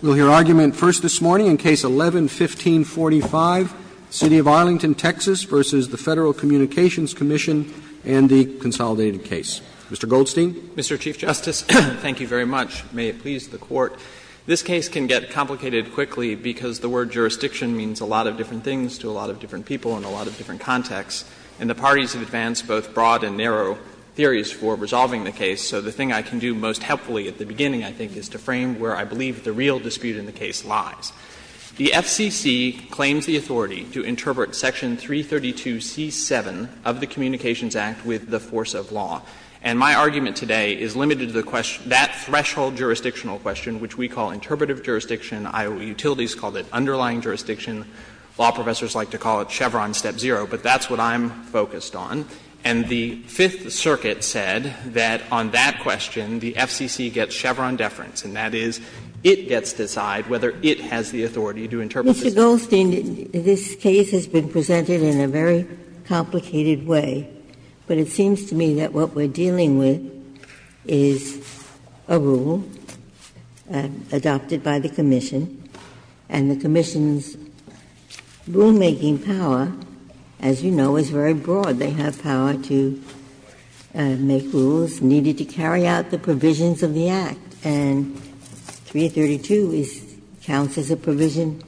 We'll hear argument first this morning in Case 11-1545, City of Arlington, Texas v. The Federal Communications Commission and the consolidated case. Mr. Goldstein. Mr. Chief Justice, thank you very much. May it please the Court. This case can get complicated quickly because the word jurisdiction means a lot of different things to a lot of different people and a lot of different contexts, and the parties have advanced both broad and narrow theories for resolving the case. So the thing I can do most helpfully at the beginning, I think, is to frame where I believe the real dispute in the case lies. The FCC claims the authority to interpret Section 332c-7 of the Communications Act with the force of law. And my argument today is limited to the question, that threshold jurisdictional question, which we call interpretive jurisdiction. IOT utilities called it underlying jurisdiction. Law professors like to call it Chevron step zero, but that's what I'm focused on. And the Fifth Circuit said that on that question, the FCC gets Chevron deference, and that is, it gets to decide whether it has the authority to interpret this case. Ginsburg. Mr. Goldstein, this case has been presented in a very complicated way, but it seems to me that what we're dealing with is a rule adopted by the commission, and the commission's rulemaking power, as you know, is very broad. They have power to make rules needed to carry out the provisions of the Act, and 332 counts as a provision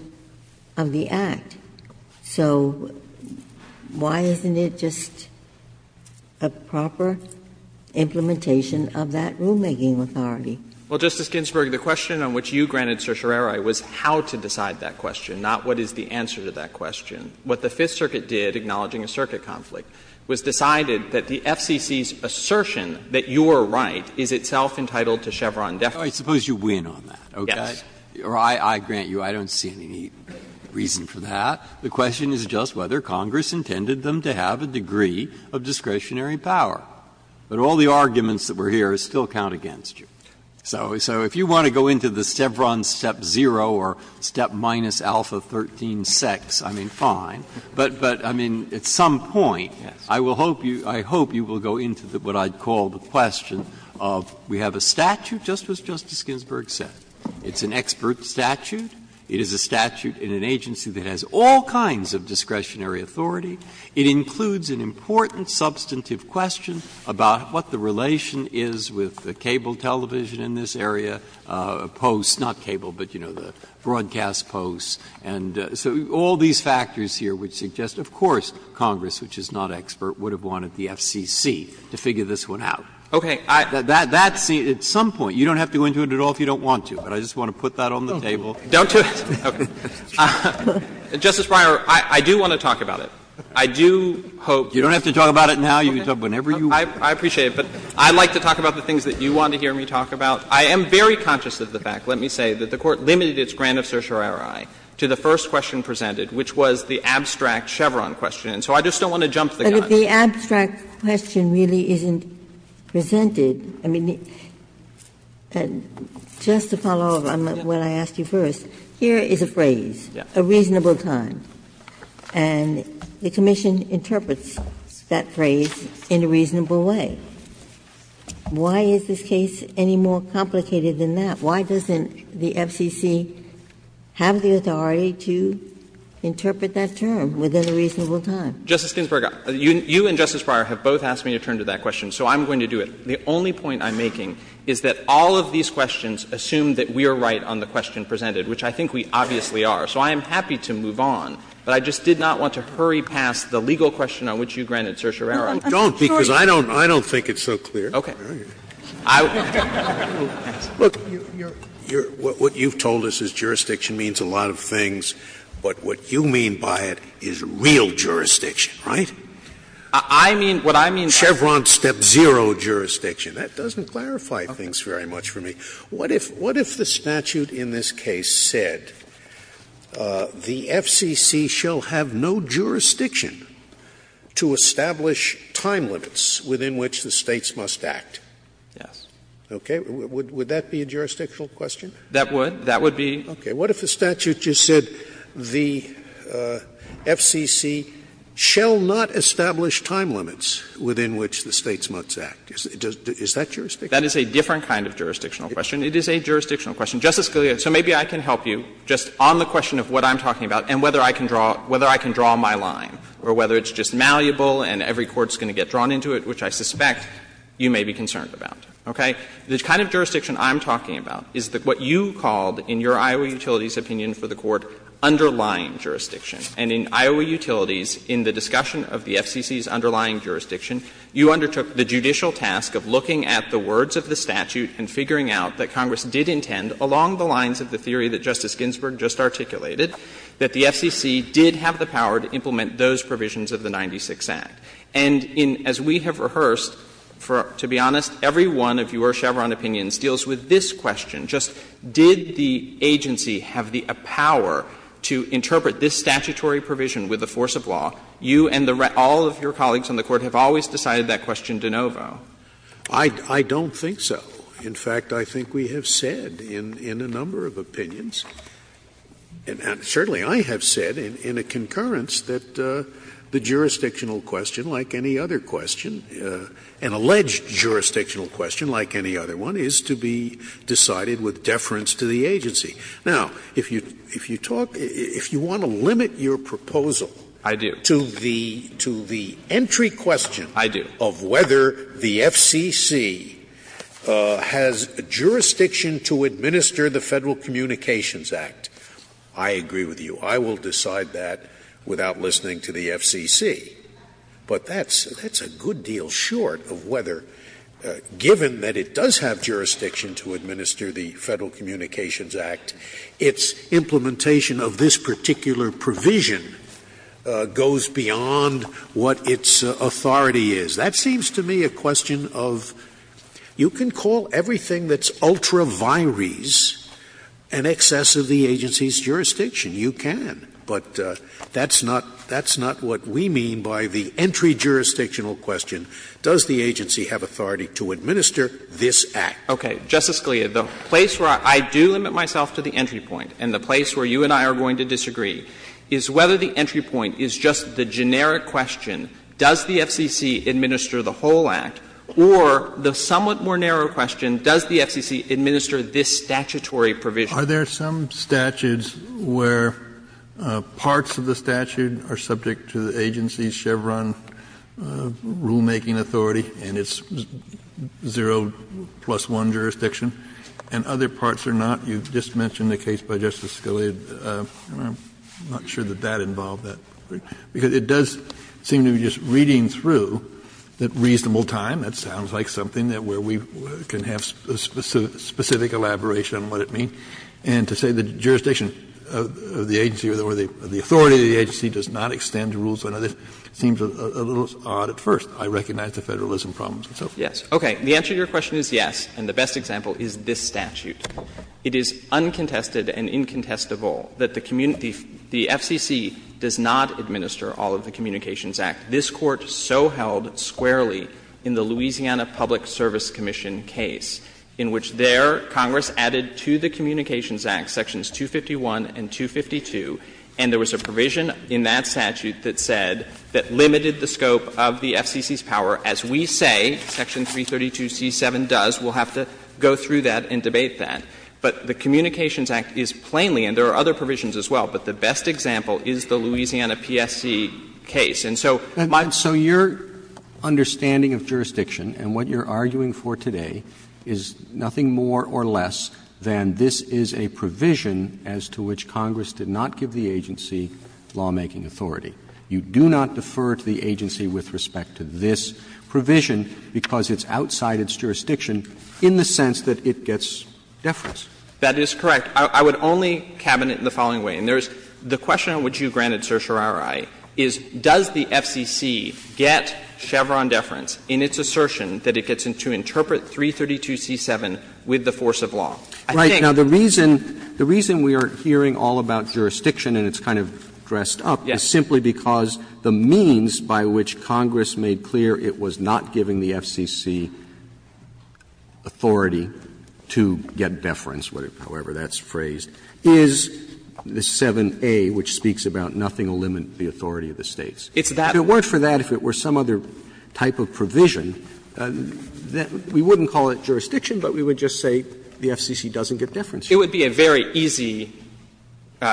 of the Act. So why isn't it just a proper implementation of that rulemaking authority? Well, Justice Ginsburg, the question on which you granted certiorari was how to decide that question, not what is the answer to that question. What the Fifth Circuit did, acknowledging a circuit conflict, was decided that the FCC's assertion that you are right is itself entitled to Chevron deference. Breyer. I suppose you win on that, okay? Yes. I grant you I don't see any reason for that. The question is just whether Congress intended them to have a degree of discretionary power. But all the arguments that were here still count against you. So if you want to go into the Chevron step zero or step minus alpha 13-6, I mean, that's fine. But, I mean, at some point, I will hope you go into what I would call the question of we have a statute, just as Justice Ginsburg said. It's an expert statute. It is a statute in an agency that has all kinds of discretionary authority. It includes an important substantive question about what the relation is with the cable television in this area, posts, not cable, but, you know, the broadcast posts. And so all these factors here would suggest, of course, Congress, which is not expert, would have wanted the FCC to figure this one out. Okay. That's at some point. You don't have to go into it at all if you don't want to. But I just want to put that on the table. Don't do it. Okay. Justice Breyer, I do want to talk about it. I do hope that's fine. You don't have to talk about it now. You can talk about it whenever you want. I appreciate it. But I'd like to talk about the things that you want to hear me talk about. I am very conscious of the fact, let me say, that the Court limited its grant of certiorari to the first question presented, which was the abstract Chevron question. And so I just don't want to jump the gun. Ginsburg. But if the abstract question really isn't presented, I mean, just to follow up on what I asked you first, here is a phrase, a reasonable time, and the commission interprets that phrase in a reasonable way. Why is this case any more complicated than that? Why doesn't the FCC have the authority to interpret that term within a reasonable time? Justice Ginsburg, you and Justice Breyer have both asked me to turn to that question, so I'm going to do it. The only point I'm making is that all of these questions assume that we are right on the question presented, which I think we obviously are. So I am happy to move on, but I just did not want to hurry past the legal question on which you granted certiorari. Don't, because I don't think it's so clear. Okay. I will pass. Look, what you've told us is jurisdiction means a lot of things, but what you mean by it is real jurisdiction, right? I mean, what I mean is Chevron step zero jurisdiction. That doesn't clarify things very much for me. What if the statute in this case said the FCC shall have no jurisdiction to establish time limits within which the States must act? Yes. Okay. Would that be a jurisdictional question? That would. That would be. Okay. What if the statute just said the FCC shall not establish time limits within which the States must act? Is that jurisdictional? That is a different kind of jurisdictional question. It is a jurisdictional question. Justice Scalia, so maybe I can help you just on the question of what I'm talking about and whether I can draw my line, or whether it's just malleable and every court is going to get drawn into it, which I suspect you may be concerned about, okay? The kind of jurisdiction I'm talking about is what you called, in your Iowa Utilities opinion for the Court, underlying jurisdiction. And in Iowa Utilities, in the discussion of the FCC's underlying jurisdiction, you undertook the judicial task of looking at the words of the statute and figuring out that Congress did intend, along the lines of the theory that Justice Ginsburg just articulated, that the FCC did have the power to implement those provisions of the 96 Act. And in as we have rehearsed, to be honest, every one of your Chevron opinions deals with this question, just did the agency have the power to interpret this statutory provision with the force of law? You and all of your colleagues on the Court have always decided that question de novo. Scalia, I don't think so. In fact, I think we have said in a number of opinions, and certainly I have said in a concurrence, that the jurisdictional question, like any other question, an alleged jurisdictional question like any other one, is to be decided with deference to the agency. Now, if you talk — if you want to limit your proposal to the entry question of whether the FCC has jurisdiction to administer the Federal Communications Act, I agree with you. I will decide that without listening to the FCC. But that's a good deal short of whether, given that it does have jurisdiction to administer the Federal Communications Act, its implementation of this particular provision goes beyond what its authority is. That seems to me a question of you can call everything that's ultra vires an excess of the agency's jurisdiction. You can. But that's not — that's not what we mean by the entry jurisdictional question. Does the agency have authority to administer this Act? Okay. Justice Scalia, the place where I do limit myself to the entry point and the place where you and I are going to disagree is whether the entry point is just the generic question, does the FCC administer the whole Act, or the somewhat more narrow question, does the FCC administer this statutory provision? Are there some statutes where parts of the statute are subject to the agency's Chevron rulemaking authority and it's zero plus one jurisdiction, and other parts are not? You just mentioned the case by Justice Scalia. I'm not sure that that involved that, because it does seem to be just reading through at reasonable time. That sounds like something where we can have specific elaboration on what it means. And to say the jurisdiction of the agency or the authority of the agency does not extend the rules to another seems a little odd at first. I recognize the federalism problems and so forth. Yes. Okay. The answer to your question is yes, and the best example is this statute. It is uncontested and incontestable that the FCC does not administer all of the Communications Act, this Court so held squarely in the Louisiana Public Service Commission case, in which there Congress added to the Communications Act Sections 251 and 252. And there was a provision in that statute that said that limited the scope of the FCC's power, as we say Section 332c7 does. We'll have to go through that and debate that. But the Communications Act is plainly, and there are other provisions as well, but the best example is the Louisiana PSC case. And so my ---- Roberts You do not defer to the agency with respect to this provision because it's outside its jurisdiction in the sense that it gets deference. That is correct. I would only cabinet in the following way, and there's the question on which you granted certiorari, is does the FCC get Chevron deference in the sense that it gets in its assertion that it gets to interpret 332c7 with the force of law? I think Roberts Right. Now, the reason we are hearing all about jurisdiction, and it's kind of dressed up, is simply because the means by which Congress made clear it was not giving the FCC authority to get deference, however that's phrased, is the 7a, which speaks about nothing will limit the authority of the States. And so if Congress were to make a provision that we wouldn't call it jurisdiction, but we would just say the FCC doesn't get deference. It would be a very easy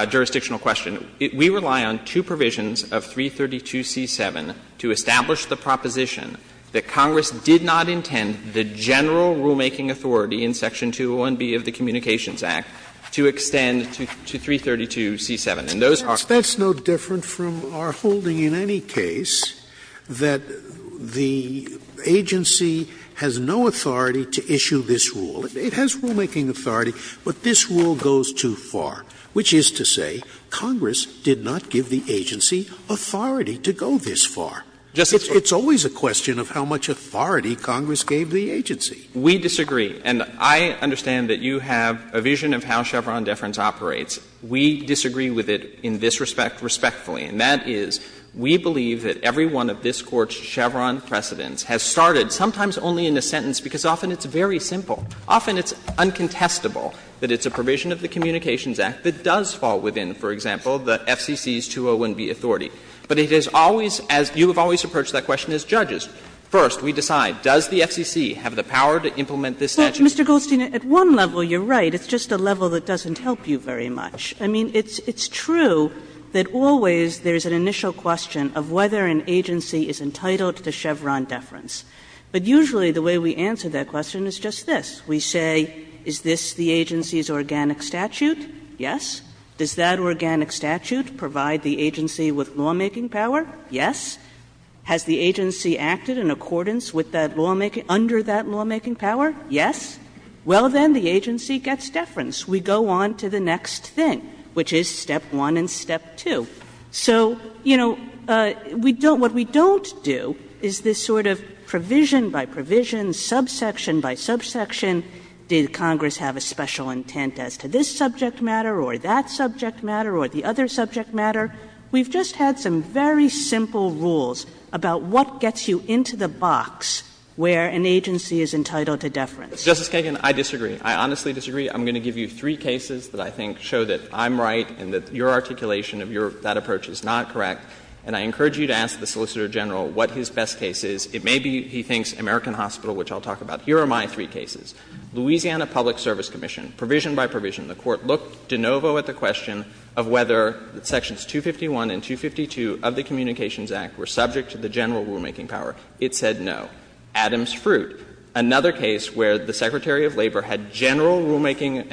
jurisdictional question. We rely on two provisions of 332c7 to establish the proposition that Congress did not intend the general rulemaking authority in section 201B of the Communications Act to extend to 332c7. And those are Scalia That's no different from our holding in any case that the agency has no authority to issue this rule. It has rulemaking authority, but this rule goes too far, which is to say Congress did not give the agency authority to go this far. It's always a question of how much authority Congress gave the agency. We disagree. And I understand that you have a vision of how Chevron deference operates. We disagree with it in this respect respectfully, and that is we believe that every one of this Court's Chevron precedents has started sometimes only in a sentence because often it's very simple. Often it's uncontestable that it's a provision of the Communications Act that does fall within, for example, the FCC's 201B authority. But it is always, as you have always approached that question as judges. First, we decide, does the FCC have the power to implement this statute? Kagan It's just a level that doesn't help you very much. I mean, it's true that always there's an initial question of whether an agency is entitled to Chevron deference. But usually the way we answer that question is just this. We say, is this the agency's organic statute? Yes. Does that organic statute provide the agency with lawmaking power? Yes. Has the agency acted in accordance with that lawmaking under that lawmaking power? Yes. Well, then the agency gets deference. We go on to the next thing, which is step one and step two. So, you know, we don't what we don't do is this sort of provision by provision, subsection by subsection, did Congress have a special intent as to this subject matter or that subject matter or the other subject matter. We've just had some very simple rules about what gets you into the box where an agency is entitled to deference. Justice Kagan, I disagree. I honestly disagree. I'm going to give you three cases that I think show that I'm right and that your articulation of your that approach is not correct. And I encourage you to ask the Solicitor General what his best case is. It may be, he thinks, American Hospital, which I'll talk about. Here are my three cases. Louisiana Public Service Commission, provision by provision, the Court looked de novo at the question of whether Sections 251 and 252 of the Communications Act were subject to the general rulemaking power. It said no. Adams-Fruit, another case where the Secretary of Labor had general rulemaking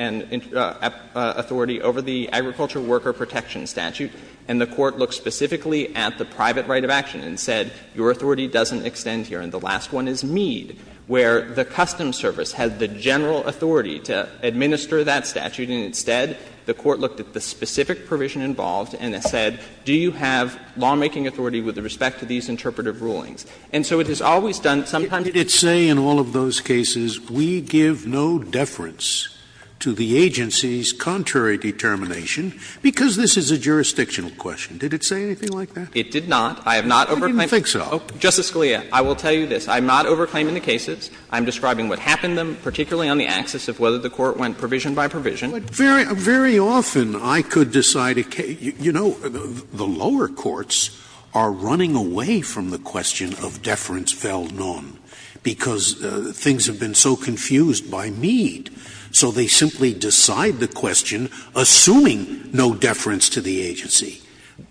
authority over the Agriculture Worker Protection Statute, and the Court looked specifically at the private right of action and said, your authority doesn't extend here. And the last one is Mead, where the Customs Service had the general authority to administer that statute, and instead, the Court looked at the specific provision involved and said, do you have lawmaking authority with respect to these interpretive rulings? And so it has always done sometimes— Scalia. Did it say in all of those cases, we give no deference to the agency's contrary determination, because this is a jurisdictional question? Did it say anything like that? It did not. I have not— I didn't think so. Justice Scalia, I will tell you this. I am not overclaiming the cases. I am describing what happened in them, particularly on the axis of whether the Court went provision by provision. But very often I could decide a case — you know, the lower courts are running away from the question of deference fell none, because things have been so confused by Mead. So they simply decide the question, assuming no deference to the agency.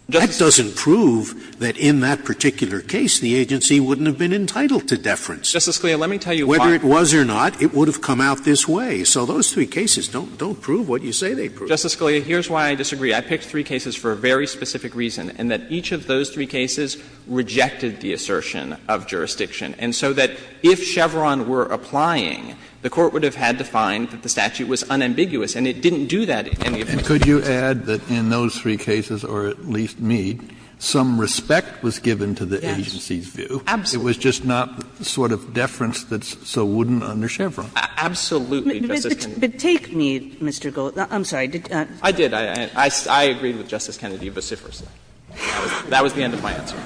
That doesn't prove that in that particular case the agency wouldn't have been entitled to deference. Justice Scalia, let me tell you why. Whether it was or not, it would have come out this way. So those three cases don't prove what you say they prove. Justice Scalia, here's why I disagree. I picked three cases for a very specific reason, and that each of those three cases rejected the assertion of jurisdiction. And so that if Chevron were applying, the Court would have had to find that the statute was unambiguous, and it didn't do that in any of those cases. Kennedy, in those three cases, or at least Mead, some respect was given to the agency's view. Absolutely. It was just not the sort of deference that's so wooden under Chevron. Absolutely, Justice Kennedy. But take Mead, Mr. Gold. I'm sorry. I did. I agreed with Justice Kennedy vociferously. That was the end of my answer.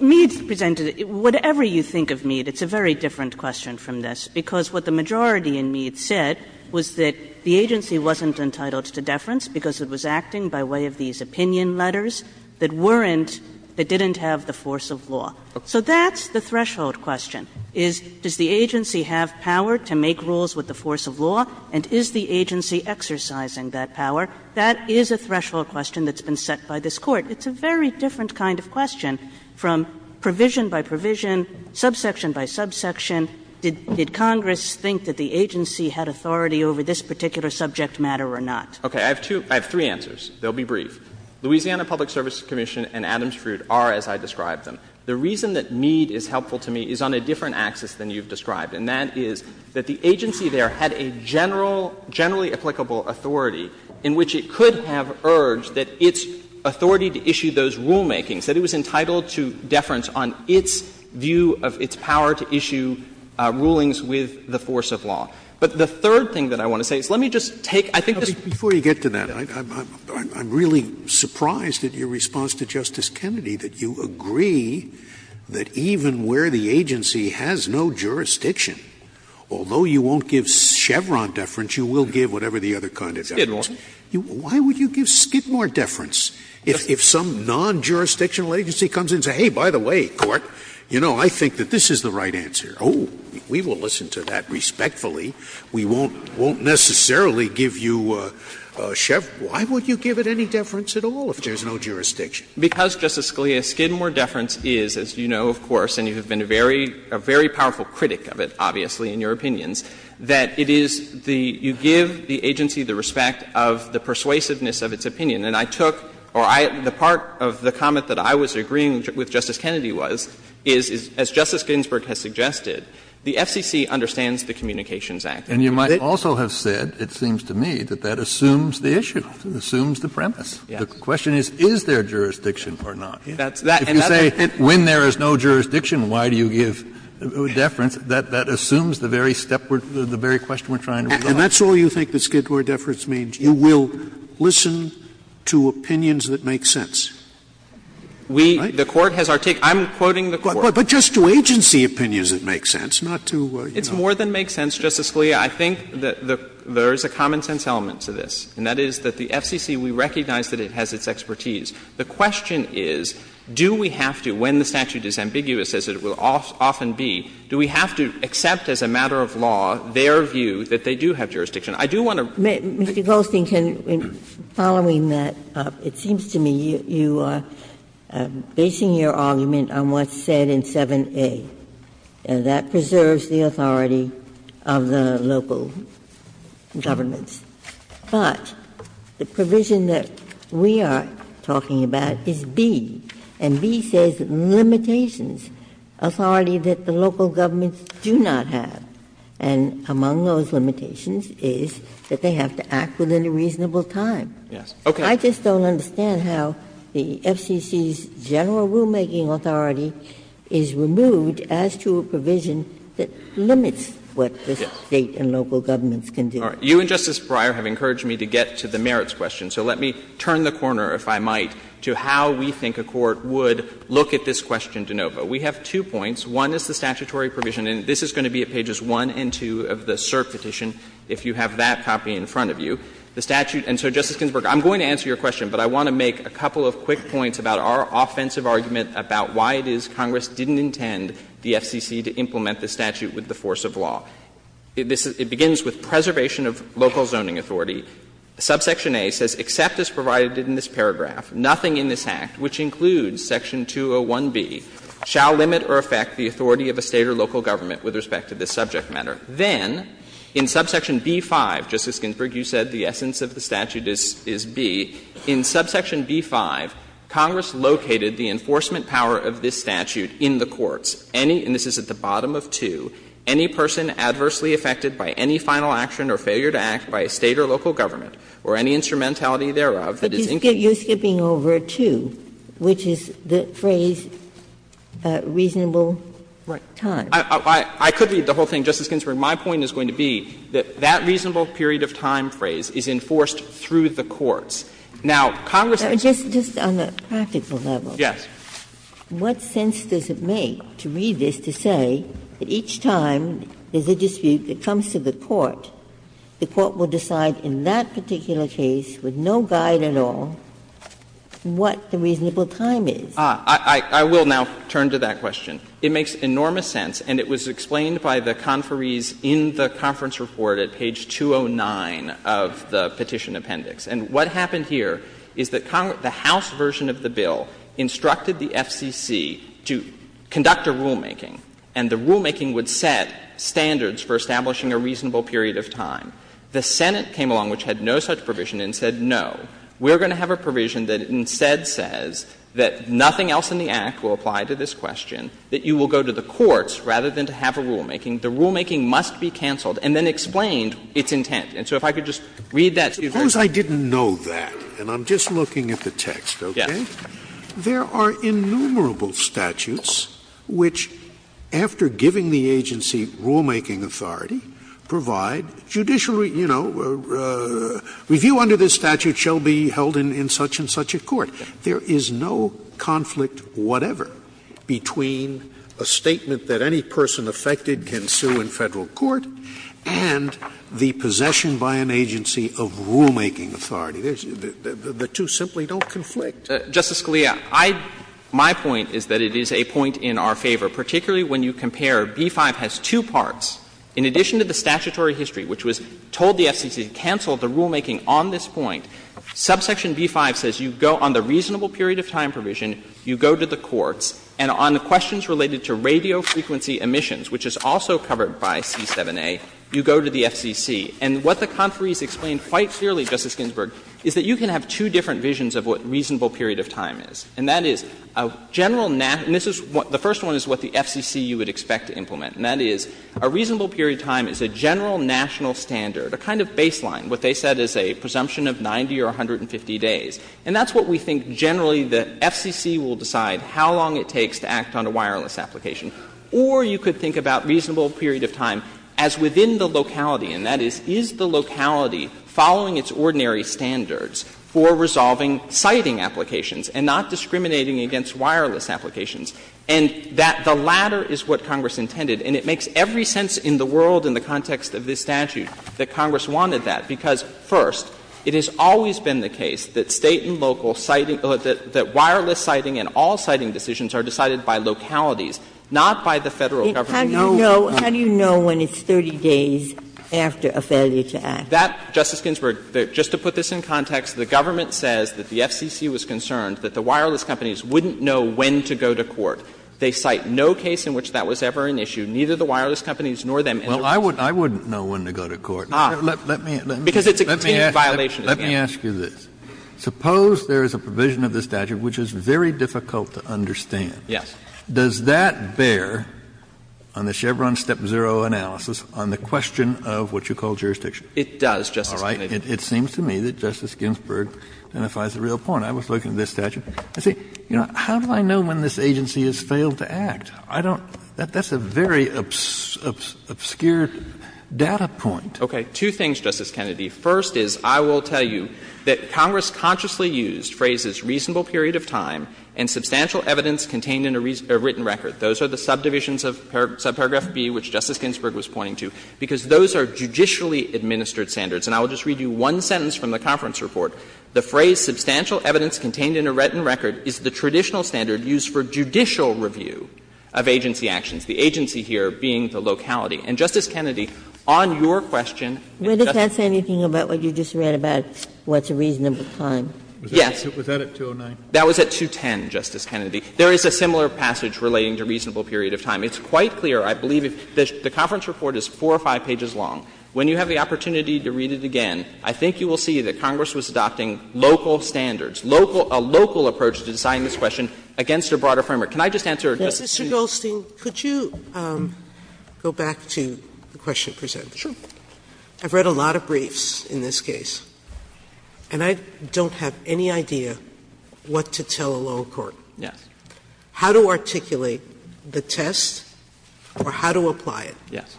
Mead presented – whatever you think of Mead, it's a very different question from this, because what the majority in Mead said was that the agency wasn't entitled to deference because it was acting by way of these opinion letters that weren't – that didn't have the force of law. So that's the threshold question, is does the agency have power to make rules with the force of law, and is the agency exercising that power? That is a threshold question that's been set by this Court. It's a very different kind of question from provision by provision, subsection by subsection. Did Congress think that the agency had authority over this particular subject matter or not? Okay. I have two – I have three answers. They'll be brief. Louisiana Public Service Commission and Adams-Fruit are as I described them. The reason that Mead is helpful to me is on a different axis than you've described, and that is that the agency there had a general – generally applicable authority in which it could have urged that its authority to issue those rulemakings, that it was entitled to deference on its view of its power to issue rulings with the force of law. But the third thing that I want to say is let me just take – I think this is – Scalia. Before you get to that, I'm really surprised at your response to Justice Kennedy that you agree that even where the agency has no jurisdiction, although you won't give Chevron deference, you will give whatever the other kind of deference. Why would you give Skidmore deference if some non-jurisdictional agency comes in and says, hey, by the way, Court, you know, I think that this is the right answer. Oh, we will listen to that respectfully. We won't necessarily give you Chevron. Why would you give it any deference at all if there's no jurisdiction? Because, Justice Scalia, Skidmore deference is, as you know, of course, and you have been a very powerful critic of it, obviously, in your opinions, that it is the – you give the agency the respect of the persuasiveness of its opinion. And I took – or I – the part of the comment that I was agreeing with Justice Kennedy was, is as Justice Ginsburg has suggested, the FCC understands the Communications Act. And you might also have said, it seems to me, that that assumes the issue, assumes the premise. Yes. The question is, is there jurisdiction or not? That's that. And that's the point. If you say, when there is no jurisdiction, why do you give deference, that assumes the very step we're – the very question we're trying to resolve. And that's all you think that Skidmore deference means, you will listen to opinions that make sense. We – the Court has articulated – I'm quoting the Court. But just to agency opinions that make sense, not to, you know – It's more than makes sense, Justice Scalia. Justice Sotomayor, I recognize that it has its expertise. The question is, do we have to, when the statute is ambiguous, as it will often be, do we have to accept as a matter of law their view that they do have jurisdiction? I do want to – Mr. Goldstein, can – following that, it seems to me you are basing your argument on what's said in 7A. And that preserves the authority of the local governments. But the provision that we are talking about is B. And B says limitations, authority that the local governments do not have. And among those limitations is that they have to act within a reasonable time. I just don't understand how the FCC's general rulemaking authority is removed as to a provision that limits what the State and local governments can do. You and Justice Breyer have encouraged me to get to the merits question. So let me turn the corner, if I might, to how we think a court would look at this question de novo. We have two points. One is the statutory provision. And this is going to be at pages 1 and 2 of the cert petition, if you have that copy in front of you. The statute – and so, Justice Ginsburg, I'm going to answer your question, but I want to make a couple of quick points about our offensive argument about why it is Congress didn't intend the FCC to implement the statute with the force of law. It begins with preservation of local zoning authority. Subsection A says, except as provided in this paragraph, nothing in this Act, which includes section 201B, shall limit or affect the authority of a State or local government with respect to this subject matter. Then, in subsection B-5, Justice Ginsburg, you said the essence of the statute is B. In subsection B-5, Congress located the enforcement power of this statute in the courts. Any – and this is at the bottom of 2 – any person adversely affected by any final action or failure to act by a State or local government, or any instrumentality thereof that is included in this statute. Ginsburg. But you're skipping over 2, which is the phrase, reasonable time. I could read the whole thing, Justice Ginsburg. My point is going to be that that reasonable period of time phrase is enforced through the courts. Now, Congress has to do this. Just on a practical level. Yes. Ginsburg. What sense does it make to read this to say that each time there's a dispute that comes to the court, the court will decide in that particular case with no guide at all what the reasonable time is? Ah, I will now turn to that question. It makes enormous sense, and it was explained by the conferees in the conference report at page 209 of the Petition Appendix. And what happened here is that Congress – the House version of the bill instructed the FCC to conduct a rulemaking, and the rulemaking would set standards for establishing a reasonable period of time. The Senate came along, which had no such provision, and said, no, we're going to have a provision that instead says that nothing else in the Act will apply to this question, that you will go to the courts rather than to have a rulemaking. The rulemaking must be canceled, and then explained its intent. And so if I could just read that to you very quickly. Since I didn't know that, and I'm just looking at the text, okay, there are innumerable statutes which, after giving the agency rulemaking authority, provide judicially, you know, review under this statute shall be held in such-and-such a court. There is no conflict whatever between a statement that any person affected can sue in Federal court and the possession by an agency of rulemaking authority. The two simply don't conflict. Justice Scalia, I – my point is that it is a point in our favor, particularly when you compare. B-5 has two parts. In addition to the statutory history, which was told the FCC to cancel the rulemaking on this point, subsection B-5 says you go on the reasonable period of time provision, you go to the courts, and on the questions related to radio frequency emissions, which is also covered by C-7a, you go to the FCC. And what the conferees explained quite clearly, Justice Ginsburg, is that you can have two different visions of what reasonable period of time is. And that is a general – and this is what – the first one is what the FCC you would expect to implement. And that is a reasonable period of time is a general national standard, a kind of baseline, what they said is a presumption of 90 or 150 days. And that's what we think generally the FCC will decide how long it takes to act on a wireless application. Or you could think about reasonable period of time as within the locality, and that is, is the locality following its ordinary standards for resolving sighting applications and not discriminating against wireless applications? And that the latter is what Congress intended. And it makes every sense in the world in the context of this statute that Congress wanted that, because, first, it has always been the case that State and local sighting – that wireless sighting and all sighting decisions are decided by localities, not by the Federal government. Ginsburg. How do you know when it's 30 days after a failure to act? That, Justice Ginsburg, just to put this in context, the government says that the FCC was concerned that the wireless companies wouldn't know when to go to court. They cite no case in which that was ever an issue, neither the wireless companies nor them. Kennedy. Well, I wouldn't know when to go to court. Let me ask you this. Suppose there is a provision of the statute which is very difficult to understand. Yes. Does that bear on the Chevron step zero analysis on the question of what you call jurisdiction? It does, Justice Kennedy. All right. It seems to me that Justice Ginsburg identifies the real point. I was looking at this statute. I say, you know, how do I know when this agency has failed to act? I don't – that's a very obscure data point. Okay. Two things, Justice Kennedy. First is I will tell you that Congress consciously used phrases, reasonable period of time, and substantial evidence contained in a written record. Those are the subdivisions of subparagraph B, which Justice Ginsburg was pointing to, because those are judicially administered standards. And I will just read you one sentence from the conference report. The phrase, substantial evidence contained in a written record, is the traditional standard used for judicial review of agency actions, the agency here being the locality. And, Justice Kennedy, on your question, if Justice Kennedy Where does that say anything about what you just read about what's a reasonable time? Yes. Was that at 209? That was at 210, Justice Kennedy. There is a similar passage relating to reasonable period of time. It's quite clear, I believe, the conference report is 4 or 5 pages long. When you have the opportunity to read it again, I think you will see that Congress was adopting local standards, a local approach to deciding this question against a broader framework. Can I just answer, Justice Sotomayor? Mr. Goldstein, could you go back to the question presented? Sure. I've read a lot of briefs in this case, and I don't have any idea what to tell a law court. Yes. How to articulate the test or how to apply it. Yes.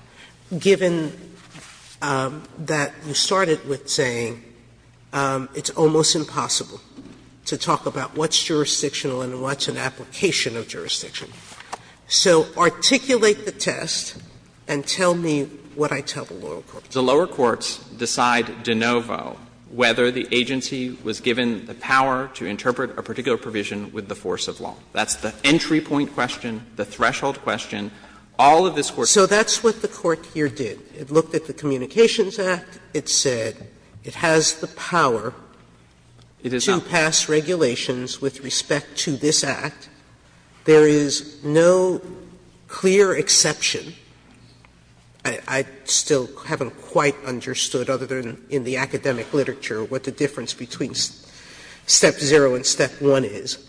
Given that you started with saying it's almost impossible to talk about what's jurisdictional and what's an application of jurisdiction. So articulate the test and tell me what I tell the lower courts. The lower courts decide de novo whether the agency was given the power to interpret a particular provision with the force of law. That's the entry point question, the threshold question. All of this Court's. So that's what the Court here did. It looked at the Communications Act. It said it has the power to pass regulations with respect to this Act. There is no clear exception. I still haven't quite understood, other than in the academic literature, what the difference between Step 0 and Step 1 is.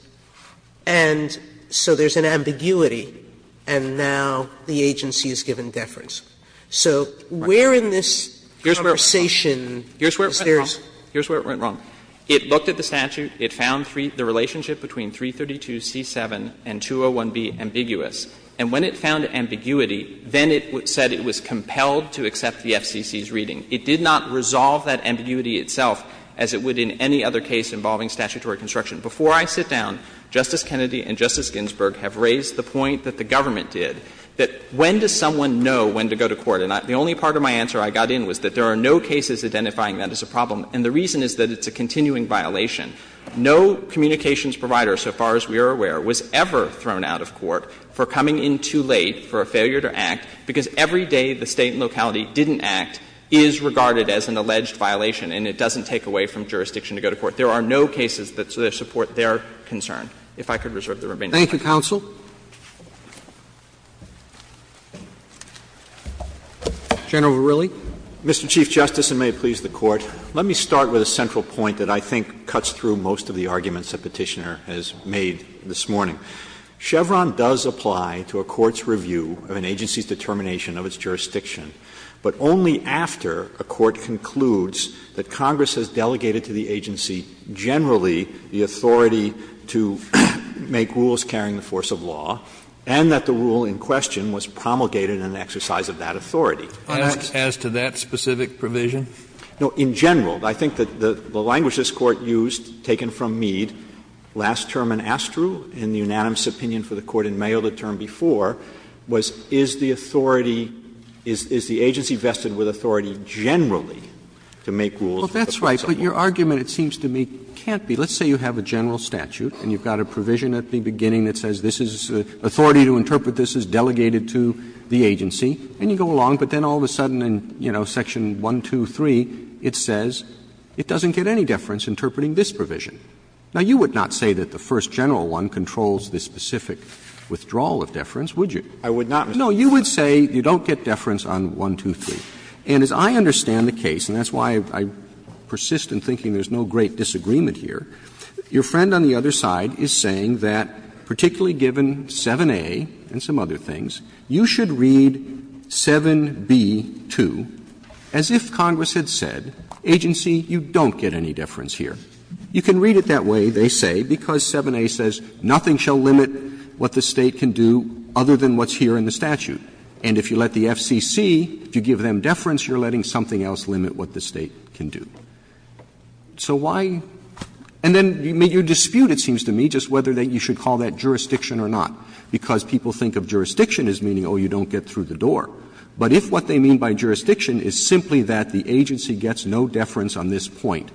And so there's an ambiguity, and now the agency is given deference. So where in this conversation is there's? Here's where it went wrong. It looked at the statute. It found the relationship between 332C7 and 201B ambiguous. And when it found ambiguity, then it said it was compelled to accept the FCC's reading. It did not resolve that ambiguity itself as it would in any other case involving statutory construction. Before I sit down, Justice Kennedy and Justice Ginsburg have raised the point that the government did, that when does someone know when to go to court? And the only part of my answer I got in was that there are no cases identifying that as a problem. And the reason is that it's a continuing violation. No communications provider, so far as we are aware, was ever thrown out of court for coming in too late for a failure to act, because every day the State and locality didn't act is regarded as an alleged violation, and it doesn't take away from jurisdiction to go to court. There are no cases that support their concern. If I could reserve the remaining time. Roberts. Thank you, counsel. General Verrilli. Mr. Chief Justice, and may it please the Court, let me start with a central point that I think cuts through most of the arguments that Petitioner has made this morning. Chevron does apply to a court's review of an agency's determination of its jurisdiction, but only after a court concludes that Congress has delegated to the agency generally the authority to make rules carrying the force of law, and that the rule in question was promulgated in an exercise of that authority. As to that specific provision? Verrilli, no, in general. I think that the language this Court used, taken from Mead, last term in Astru in the unanimous opinion for the Court in Mayo, the term before, was is the authority – is the agency vested with authority generally to make rules with the force of law? Roberts. Well, that's right, but your argument, it seems to me, can't be. Let's say you have a general statute and you've got a provision at the beginning that says this is authority to interpret this as delegated to the agency, and you go along, but then all of a sudden in, you know, section 123, it says it doesn't get any deference interpreting this provision. Now, you would not say that the first general one controls the specific withdrawal of deference, would you? Verrilli, no, you would say you don't get deference on 123. And as I understand the case, and that's why I persist in thinking there's no great disagreement here, your friend on the other side is saying that, particularly given 7a and some other things, you should read 7b-2 as if Congress had said, agency, you don't get any deference here. You can read it that way, they say, because 7a says nothing shall limit what the State can do other than what's here in the statute. And if you let the FCC, if you give them deference, you're letting something else limit what the State can do. So why – and then you dispute, it seems to me, just whether you should call that jurisdiction or not, because people think of jurisdiction as meaning, oh, you don't get through the door. But if what they mean by jurisdiction is simply that the agency gets no deference on this point,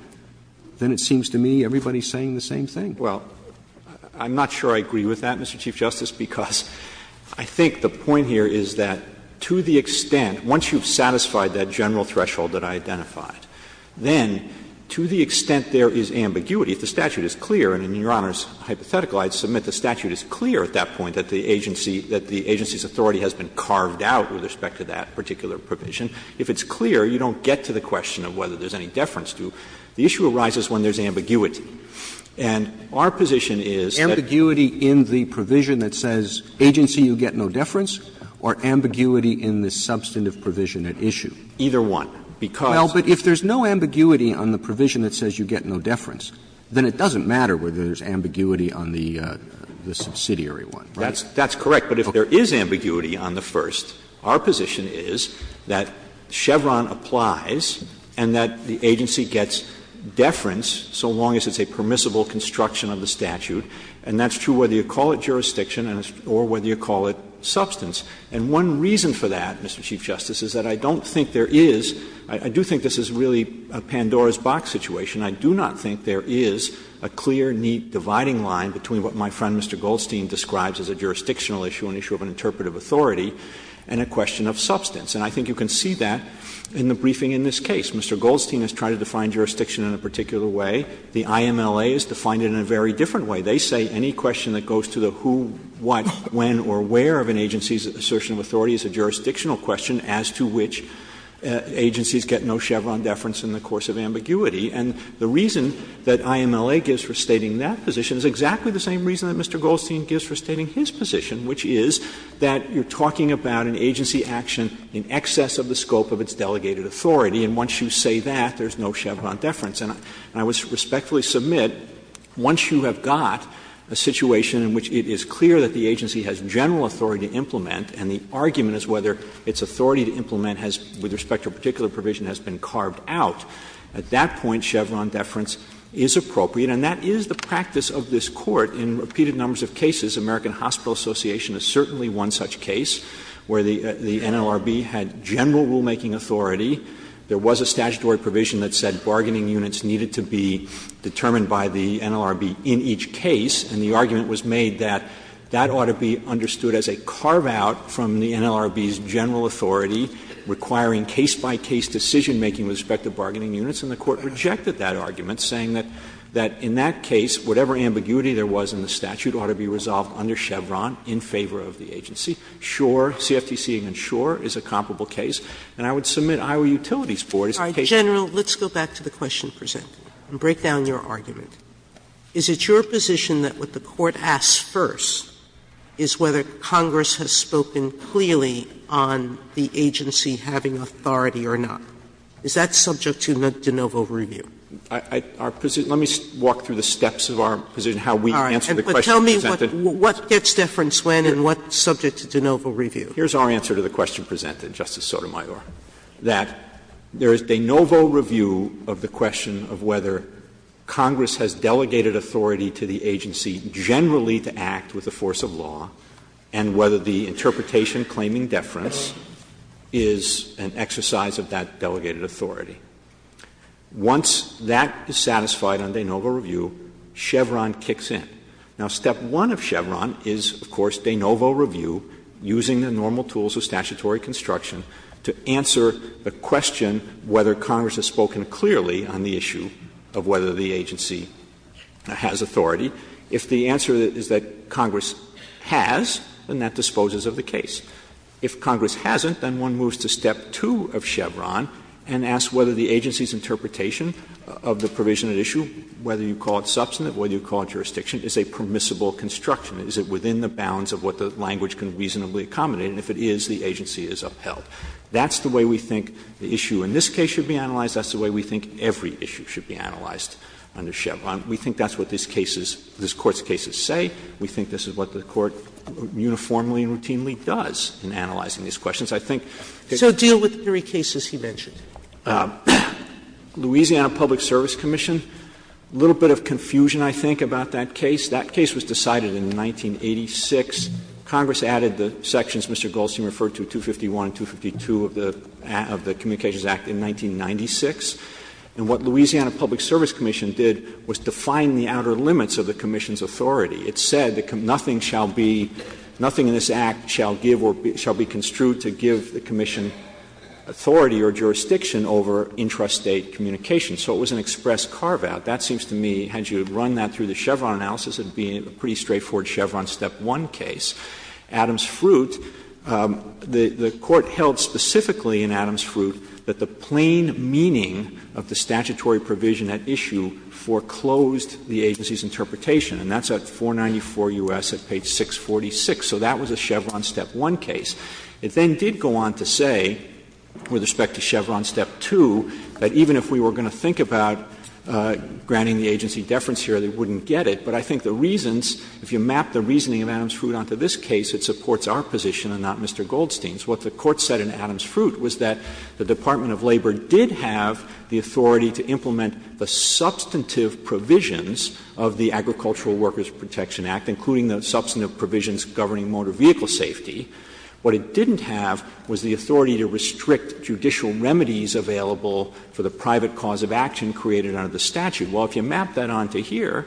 then it seems to me everybody's saying the same thing. Verrilli, I'm not sure I agree with that, Mr. Chief Justice, because I think the point here is that to the extent, once you've satisfied that general threshold that I identified, then to the extent there is ambiguity, if the statute is clear and in Your Honor's hypothetical I'd submit the statute is clear at that point that the agency – that the agency's authority has been carved out with respect to that particular provision, if it's clear you don't get to the question of whether there's any deference to, the issue arises when there's ambiguity. And our position is that – Roberts, Ambiguity in the provision that says agency, you get no deference, or ambiguity in the substantive provision at issue? Verrilli, Either one, because – Roberts, Well, but if there's no ambiguity on the provision that says you get no deference, then it doesn't matter whether there's ambiguity on the subsidiary one, right? Verrilli, That's correct. But if there is ambiguity on the first, our position is that Chevron applies and that the agency gets deference so long as it's a permissible construction of the statute. And that's true whether you call it jurisdiction or whether you call it substance. And one reason for that, Mr. Chief Justice, is that I don't think there is – I do think this is really a Pandora's box situation. I do not think there is a clear, neat dividing line between what my friend, Mr. Goldstein, describes as a jurisdictional issue, an issue of an interpretive authority, and a question of substance. And I think you can see that in the briefing in this case. Mr. Goldstein has tried to define jurisdiction in a particular way. The IMLA has defined it in a very different way. They say any question that goes to the who, what, when or where of an agency's assertion of authority is a jurisdictional question as to which agencies get no Chevron deference in the course of ambiguity. And the reason that IMLA gives for stating that position is exactly the same reason that Mr. Goldstein gives for stating his position, which is that you're talking about an agency action in excess of the scope of its delegated authority, and once you say that, there is no Chevron deference. And I would respectfully submit, once you have got a situation in which it is clear that the agency has general authority to implement and the argument is whether its authority to implement has, with respect to a particular provision, has been a Chevron deference, is appropriate. And that is the practice of this Court. In repeated numbers of cases, American Hospital Association has certainly won such case where the NLRB had general rulemaking authority, there was a statutory provision that said bargaining units needed to be determined by the NLRB in each case, and the argument was made that that ought to be understood as a carve-out from the NLRB's general authority requiring case-by-case decision-making with respect to bargaining units, and the Court rejected that argument, saying that in that case, whatever ambiguity there was in the statute ought to be resolved under Chevron in favor of the agency. Sure, CFTC and sure is a comparable case, and I would submit Iowa Utilities Board is the case. Sotomayor, let's go back to the question presented and break down your argument. Is it your position that what the Court asks first is whether Congress has spoken clearly on the agency having authority or not? Is that subject to de novo review? Let me walk through the steps of our position, how we answer the question presented. Tell me what gets deference when and what's subject to de novo review. Here's our answer to the question presented, Justice Sotomayor, that there is de novo review of the question of whether Congress has delegated authority to the agency generally to act with the force of law, and whether the interpretation claiming deference is an exercise of that delegated authority. Once that is satisfied on de novo review, Chevron kicks in. Now, step one of Chevron is, of course, de novo review, using the normal tools of statutory construction to answer the question whether Congress has spoken clearly on the issue of whether the agency has authority. If the answer is that Congress has, then that disposes of the case. If Congress hasn't, then one moves to step two of Chevron and asks whether the agency's interpretation of the provision at issue, whether you call it substantive, whether you call it jurisdiction, is a permissible construction. Is it within the bounds of what the language can reasonably accommodate? And if it is, the agency is upheld. That's the way we think the issue in this case should be analyzed. That's the way we think every issue should be analyzed under Chevron. We think that's what this case is, this Court's cases say. We think this is what the Court uniformly and routinely does in analyzing these questions. I think that's what the Court says. Sotomayor, so deal with the three cases he mentioned. Louisiana Public Service Commission, a little bit of confusion, I think, about that case. That case was decided in 1986. Congress added the sections Mr. Goldstein referred to, 251 and 252 of the Communications Act in 1996. And what Louisiana Public Service Commission did was define the outer limits of the commission's authority. It said that nothing shall be, nothing in this Act shall give or shall be construed to give the commission authority or jurisdiction over intrastate communication. So it was an express carve-out. That seems to me, had you run that through the Chevron analysis, it would be a pretty straightforward Chevron step one case. Adams Fruit, the Court held specifically in Adams Fruit that the plain meaning of the statutory provision at issue foreclosed the agency's interpretation. And that's at 494 U.S. at page 646. So that was a Chevron step one case. It then did go on to say, with respect to Chevron step two, that even if we were going to think about granting the agency deference here, they wouldn't get it. But I think the reasons, if you map the reasoning of Adams Fruit onto this case, it supports our position and not Mr. Goldstein's. What the Court said in Adams Fruit was that the Department of Labor did have the authority to implement the substantive provisions of the Agricultural Workers' Protection Act, including the substantive provisions governing motor vehicle safety. What it didn't have was the authority to restrict judicial remedies available for the private cause of action created under the statute. Well, if you map that onto here,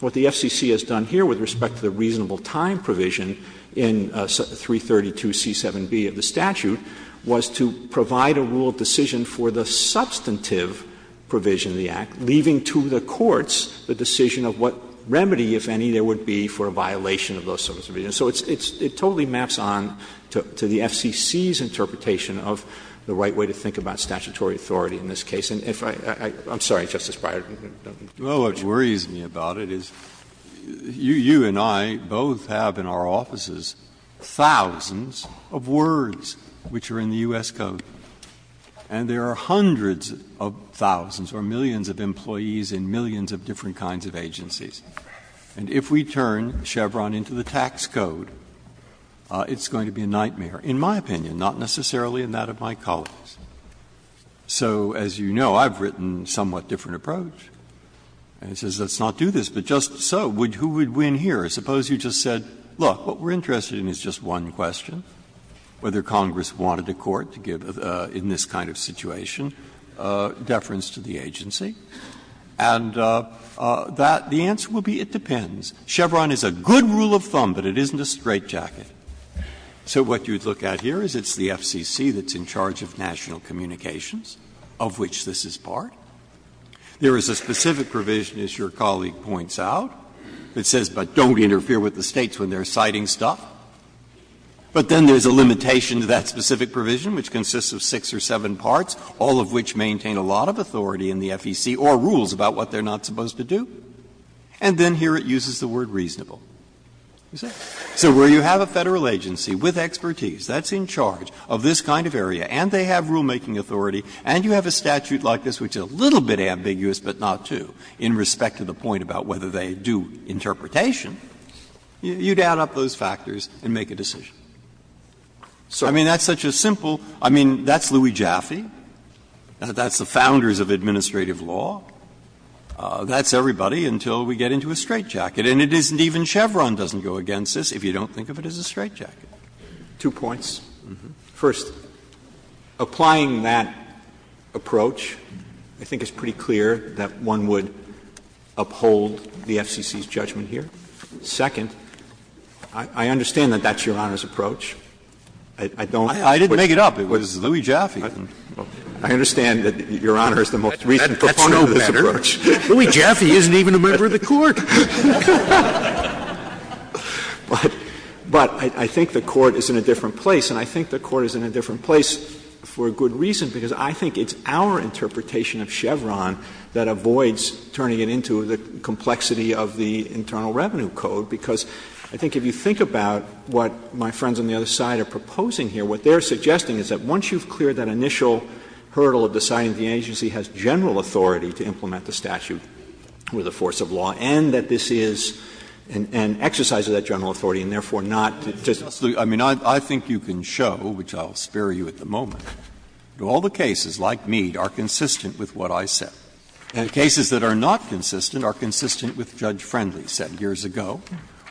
what the FCC has done here with respect to the reasonable time provision in 332c7b of the statute was to provide a rule of decision for the substantive provision of the Act, leaving to the courts the decision of what remedy, if any, there would be for a violation of those substantive provisions. So it totally maps on to the FCC's interpretation of the right way to think about statutory authority in this case. And if I — I'm sorry, Justice Breyer. Breyer, don't be too much. Breyer, what worries me about it is you and I both have in our offices thousands of words which are in the U.S. Code. And there are hundreds of thousands or millions of employees in millions of different kinds of agencies. And if we turn Chevron into the tax code, it's going to be a nightmare, in my opinion, not necessarily in that of my colleagues. So, as you know, I've written a somewhat different approach. And it says, let's not do this, but just so, who would win here? Suppose you just said, look, what we're interested in is just one question, whether Congress wanted the Court to give, in this kind of situation, deference to the agency. And that, the answer would be, it depends. Chevron is a good rule of thumb, but it isn't a straitjacket. So what you'd look at here is it's the FCC that's in charge of national communications, of which this is part. There is a specific provision, as your colleague points out, that says, but don't interfere with the States when they're citing stuff. But then there's a limitation to that specific provision, which consists of six or seven parts, all of which maintain a lot of authority in the FEC or rules about what they're not supposed to do. And then here it uses the word reasonable. So where you have a Federal agency with expertise that's in charge of this kind of area, and they have rulemaking authority, and you have a statute like this which is a little bit ambiguous, but not too, in respect to the point about whether they do interpretation, you'd add up those factors and make a decision. I mean, that's such a simple – I mean, that's Louis Jaffe, that's the founders of administrative law, that's everybody until we get into a straitjacket. And it isn't even Chevron doesn't go against this if you don't think of it as a straitjacket. Verrilli, Two points. First, applying that approach, I think it's pretty clear that one would uphold the FEC's judgment here. Second, I understand that that's Your Honor's approach. I don't think that's the most recent performance of this approach. Scalia, I didn't make it up. It was Louis Jaffe. Verrilli, I understand that Your Honor is the most recent proponent of this approach. Scalia, That's no matter. Louis Jaffe isn't even a member of the Court. Verrilli, But I think the Court is in a different place, and I think the Court is in a different place for a good reason, because I think it's our interpretation of Chevron that avoids turning it into the complexity of the Internal Revenue Code, because I think if you think about what my friends on the other side are proposing here, what they're suggesting is that once you've cleared that initial hurdle of deciding the agency has general authority to implement the statute with the force of law and that this is an exercise of that general authority and therefore not to just I mean, I think you can show, which I'll spare you at the moment, that all the cases like Mead are consistent with what I said. And cases that are not consistent are consistent with Judge Friendly's set years ago,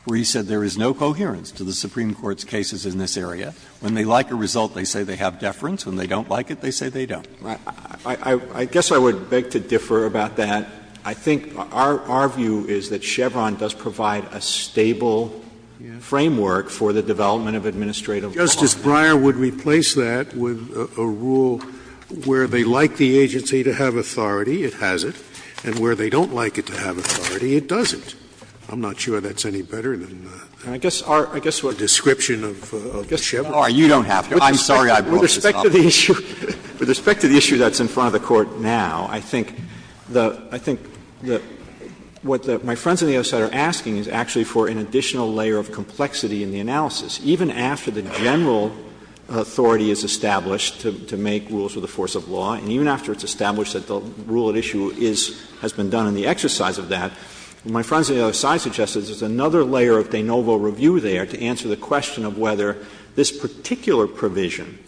where he said there is no coherence to the Supreme Court's cases in this area. When they like a result, they say they have deference. When they don't like it, they say they don't. Verrilli, I guess I would beg to differ about that. I think our view is that Chevron does provide a stable framework for the development of administrative law. Scalia, Justice Breyer would replace that with a rule where they like the agency to have authority, it has it, and where they don't like it to have authority, it doesn't. I'm not sure that's any better than the description of Chevron. Verrilli, you don't have it. I'm sorry I brought this up. Verrilli, With respect to the issue that's in front of the Court now, I think the — what my friends on the other side are asking is actually for an additional layer of complexity in the analysis. Even after the general authority is established to make rules with the force of law, and even after it's established that the rule at issue is — has been done in the exercise of that, my friends on the other side suggest that there's another layer of de novo review there to answer the question of whether this particular provision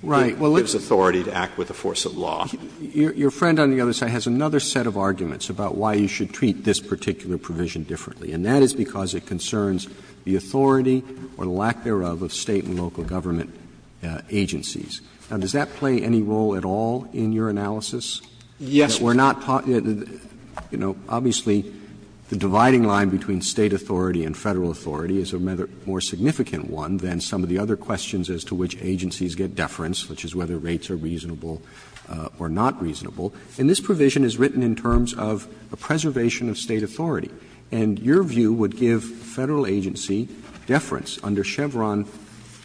gives authority to act with the force of law. Roberts Your friend on the other side has another set of arguments about why you should treat this particular provision differently, and that is because it concerns the authority or the lack thereof of State and local government agencies. Now, does that play any role at all in your analysis? Verrilli, Yes. Roberts That we're not talking — you know, obviously, the dividing line between State authority and Federal authority is a more significant one than some of the other questions as to which agencies get deference, which is whether rates are reasonable or not reasonable. And this provision is written in terms of a preservation of State authority. And your view would give Federal agency deference under Chevron,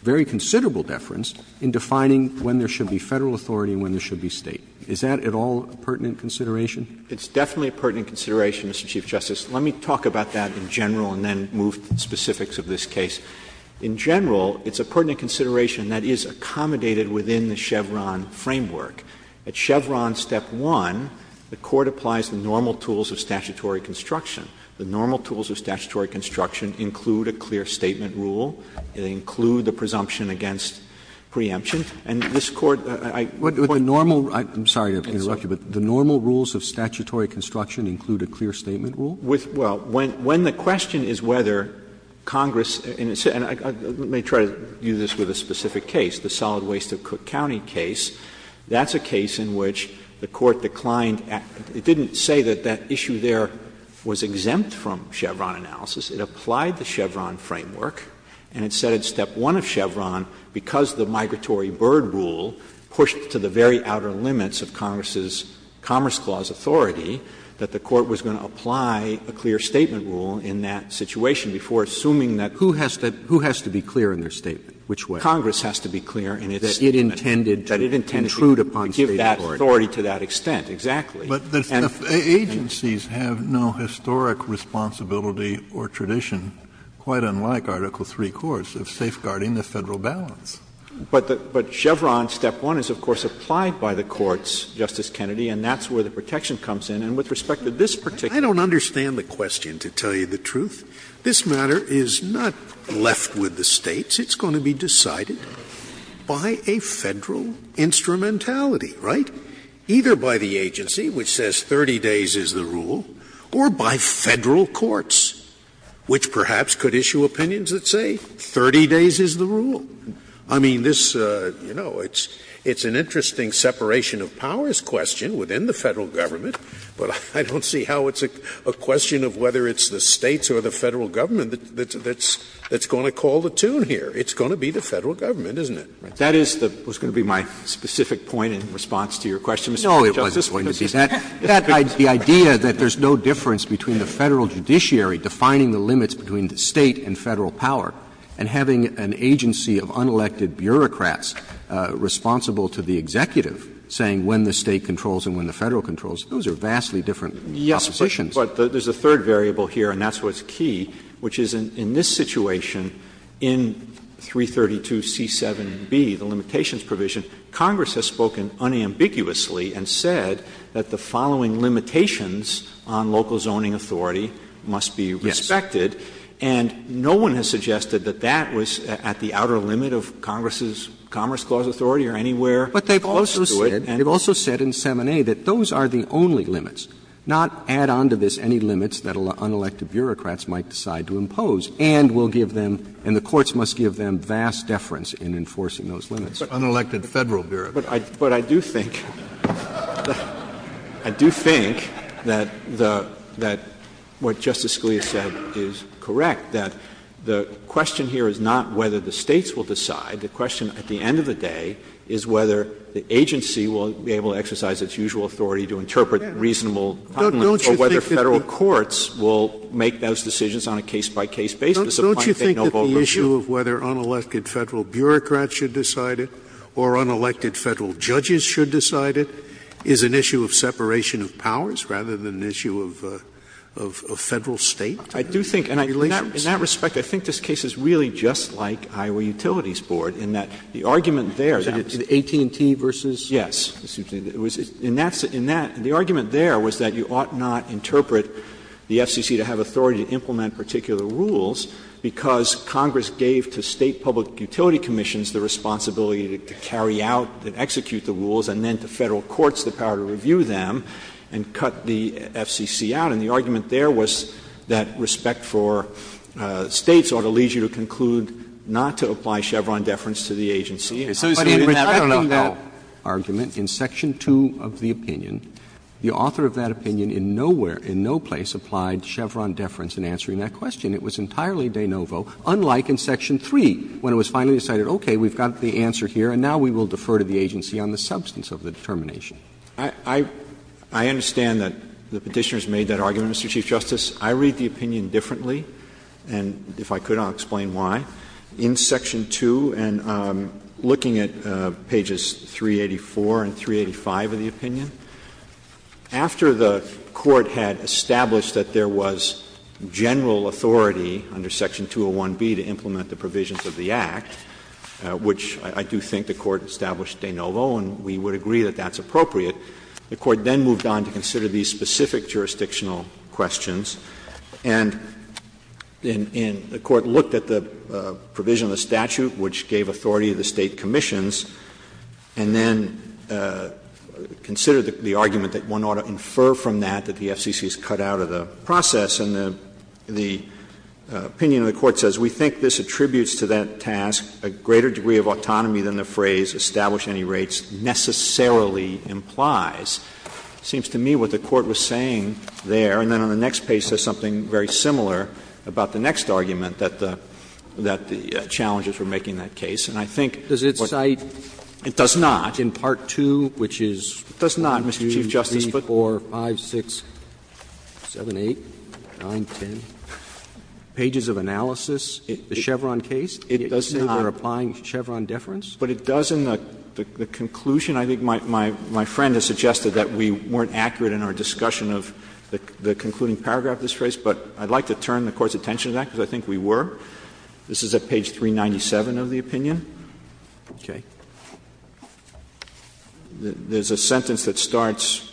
very considerable deference, in defining when there should be Federal authority and when there should be State. Is that at all a pertinent consideration? Verrilli, It's definitely a pertinent consideration, Mr. Chief Justice. Let me talk about that in general and then move to the specifics of this case. In general, it's a pertinent consideration that is accommodated within the Chevron framework. At Chevron Step 1, the Court applies the normal tools of statutory construction. The normal tools of statutory construction include a clear statement rule. They include the presumption against preemption. And this Court, I point to the normal. Roberts I'm sorry to interrupt you, but the normal rules of statutory construction include a clear statement rule? Verrilli, Well, when the question is whether Congress and it's and let me try to use this with a specific case, the solid waste of Cook County case. That's a case in which the Court declined, it didn't say that that issue there was exempt from Chevron analysis. It applied the Chevron framework and it said at Step 1 of Chevron, because the migratory bird rule pushed to the very outer limits of Congress's Commerce Clause authority, that the Court was going to apply a clear statement rule in that situation before assuming that. Kennedy Who has to be clear in their statement? Which way? Verrilli, Congress has to be clear in its statement. Kennedy That it intended to intrude upon State authority. Verrilli, That it intended to give that authority to that extent, exactly. Kennedy But the agencies have no historic responsibility or tradition, quite unlike Article 3 courts, of safeguarding the Federal balance. Verrilli, But Chevron Step 1 is, of course, applied by the courts, Justice Kennedy, and that's where the protection comes in. And with respect to this particular case, I don't understand the question, to tell you the truth. This matter is not left with the States. It's going to be decided by a Federal instrumentality, right? Either by the agency, which says 30 days is the rule, or by Federal courts, which perhaps could issue opinions that say 30 days is the rule. Scalia I mean, this, you know, it's an interesting separation of powers question within the Federal Government, but I don't see how it's a question of whether it's the States or the Federal Government that's going to call the tune here. It's going to be the Federal Government, isn't it? Verrilli, That is the one that was going to be my specific point in response to your question, Mr. Chief Justice. Roberts No, it wasn't going to be. The idea that there's no difference between the Federal judiciary defining the limits between the State and Federal power, and having an agency of unelected bureaucrats responsible to the executive saying when the State controls and when the Federal controls, those are vastly different propositions. Verrilli, Yes, but there's a third variable here, and that's what's key, which is in this situation, in 332C7B, the limitations provision, Congress has spoken unambiguously and said that the following limitations on local zoning authority must be respected. Verrilli, Yes. And no one has suggested that that was at the outer limit of Congress's Commerce Clause authority or anywhere close to it. Roberts But they've also said in 7A that those are the only limits, not add on to this any limits that unelected bureaucrats might decide to impose, and will give them, and the courts must give them vast deference in enforcing those limits. Kennedy Unelected Federal bureaucrats. Verrilli, But I do think that what Justice Scalia said is correct. That the question here is not whether the States will decide. The question at the end of the day is whether the agency will be able to exercise its usual authority to interpret reasonable comments or whether Federal courts will make those decisions on a case-by-case basis. Scalia Don't you think that the issue of whether unelected Federal bureaucrats should decide it or unelected Federal judges should decide it is an issue of separation of powers rather than an issue of Federal-State? Verrilli, In that respect, I think this case is really just like Iowa Utilities Board in that the argument there that was Roberts AT&T versus Verrilli, Yes. And that's the argument there was that you ought not interpret the FCC to have authority to implement particular rules because Congress gave to State public utility commissions the responsibility to carry out and execute the rules and then to Federal courts the power to review them and cut the FCC out. And the argument there was that respect for States ought to lead you to conclude not to apply Chevron deference to the agency. And in rejecting that argument in section 2 of the opinion, the author of that opinion in nowhere, in no place applied Chevron deference in answering that question. It was entirely de novo, unlike in section 3 when it was finally decided, okay, we've got the answer here and now we will defer to the agency on the substance of the determination. Verrilli, I understand that the Petitioner has made that argument, Mr. Chief Justice. I read the opinion differently, and if I could, I'll explain why. In section 2, and looking at pages 384 and 385 of the opinion, after the Court had established that there was general authority under section 201B to implement the provisions of the Act, which I do think the Court established de novo and we would agree that that's appropriate, the Court then moved on to consider these specific jurisdictional questions. And the Court looked at the provision of the statute which gave authority to the State commissions, and then considered the argument that one ought to infer from that that the FCC is cut out of the process. And the opinion of the Court says, We think this attributes to that task a greater degree of autonomy than the phrase establish any rates necessarily implies. It seems to me what the Court was saying there, and then on the next page says something very similar about the next argument that the challenges were making that case. And I think what It does not, Mr. Chief Justice, but It does not, in part 2, which is 1, 2, 3, 4, 5, 6, 7, 8, 9, 10 pages of analysis, the Chevron case. It does not. They're applying Chevron deference. But it does in the conclusion. I think my friend has suggested that we weren't accurate in our discussion of the concluding paragraph of this phrase, but I'd like to turn the Court's attention to that, because I think we were. This is at page 397 of the opinion. Okay. There's a sentence that starts,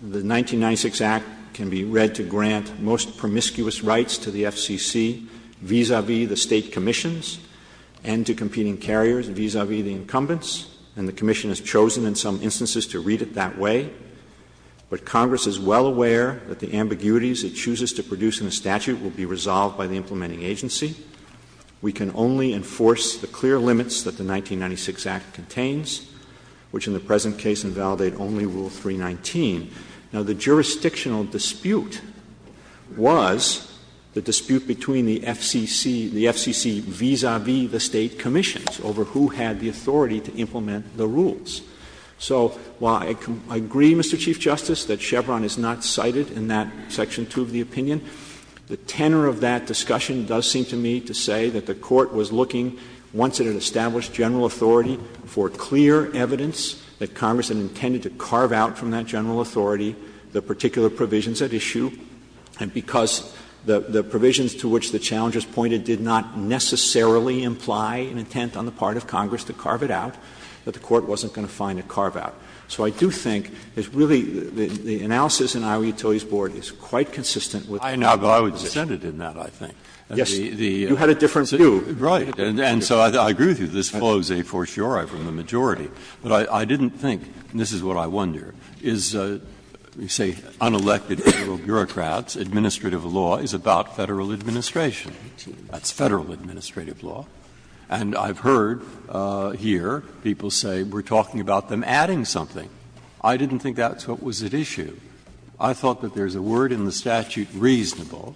The 1996 Act can be read to grant most promiscuous rights to the FCC vis-a-vis the State Commissions and to competing carriers vis-a-vis the incumbents. And the Commission has chosen in some instances to read it that way. But Congress is well aware that the ambiguities it chooses to produce in the statute will be resolved by the implementing agency. We can only enforce the clear limits that the 1996 Act contains, which in the present case invalidate only Rule 319. Now, the jurisdictional dispute was the dispute between the FCC, the FCC vis-a-vis the State Commissions over who had the authority to implement the rules. So while I agree, Mr. Chief Justice, that Chevron is not cited in that section 2 of the opinion, the tenor of that discussion does seem to me to say that the Court was looking, once it had established general authority, for clear evidence that Congress had intended to carve out from that general authority the particular provisions at issue, and because the provisions to which the challenger's pointed did not necessarily imply an intent on the part of Congress to carve it out, that the Court wasn't going to find a carve-out. So I do think it's really the analysis in Iowa Utilities Board is quite consistent with that. Breyer, but I would dissent in that, I think. Yes, you had a different view. Right. And so I agree with you, this follows a fortiori from the majority. But I didn't think, and this is what I wonder, is, you say, unelected federal bureaucrats, administrative law is about Federal administration. That's Federal administrative law. And I've heard here people say we're talking about them adding something. I didn't think that's what was at issue. I thought that there's a word in the statute, reasonable,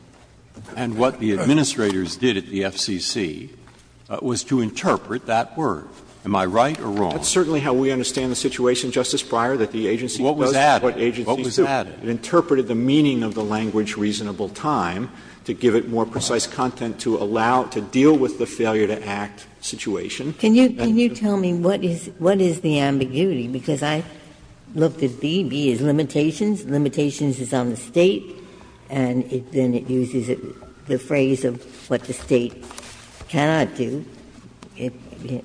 and what the administrators did at the FCC was to interpret that word. Am I right or wrong? That's certainly how we understand the situation, Justice Breyer, that the agency does what the agency does. What was added? What was added? It interpreted the meaning of the language, reasonable time, to give it more precise content to allow, to deal with the failure-to-act situation. Can you tell me what is the ambiguity? Because I looked at B, B is limitations, limitations is on the State, and then it uses the phrase of what the State cannot do.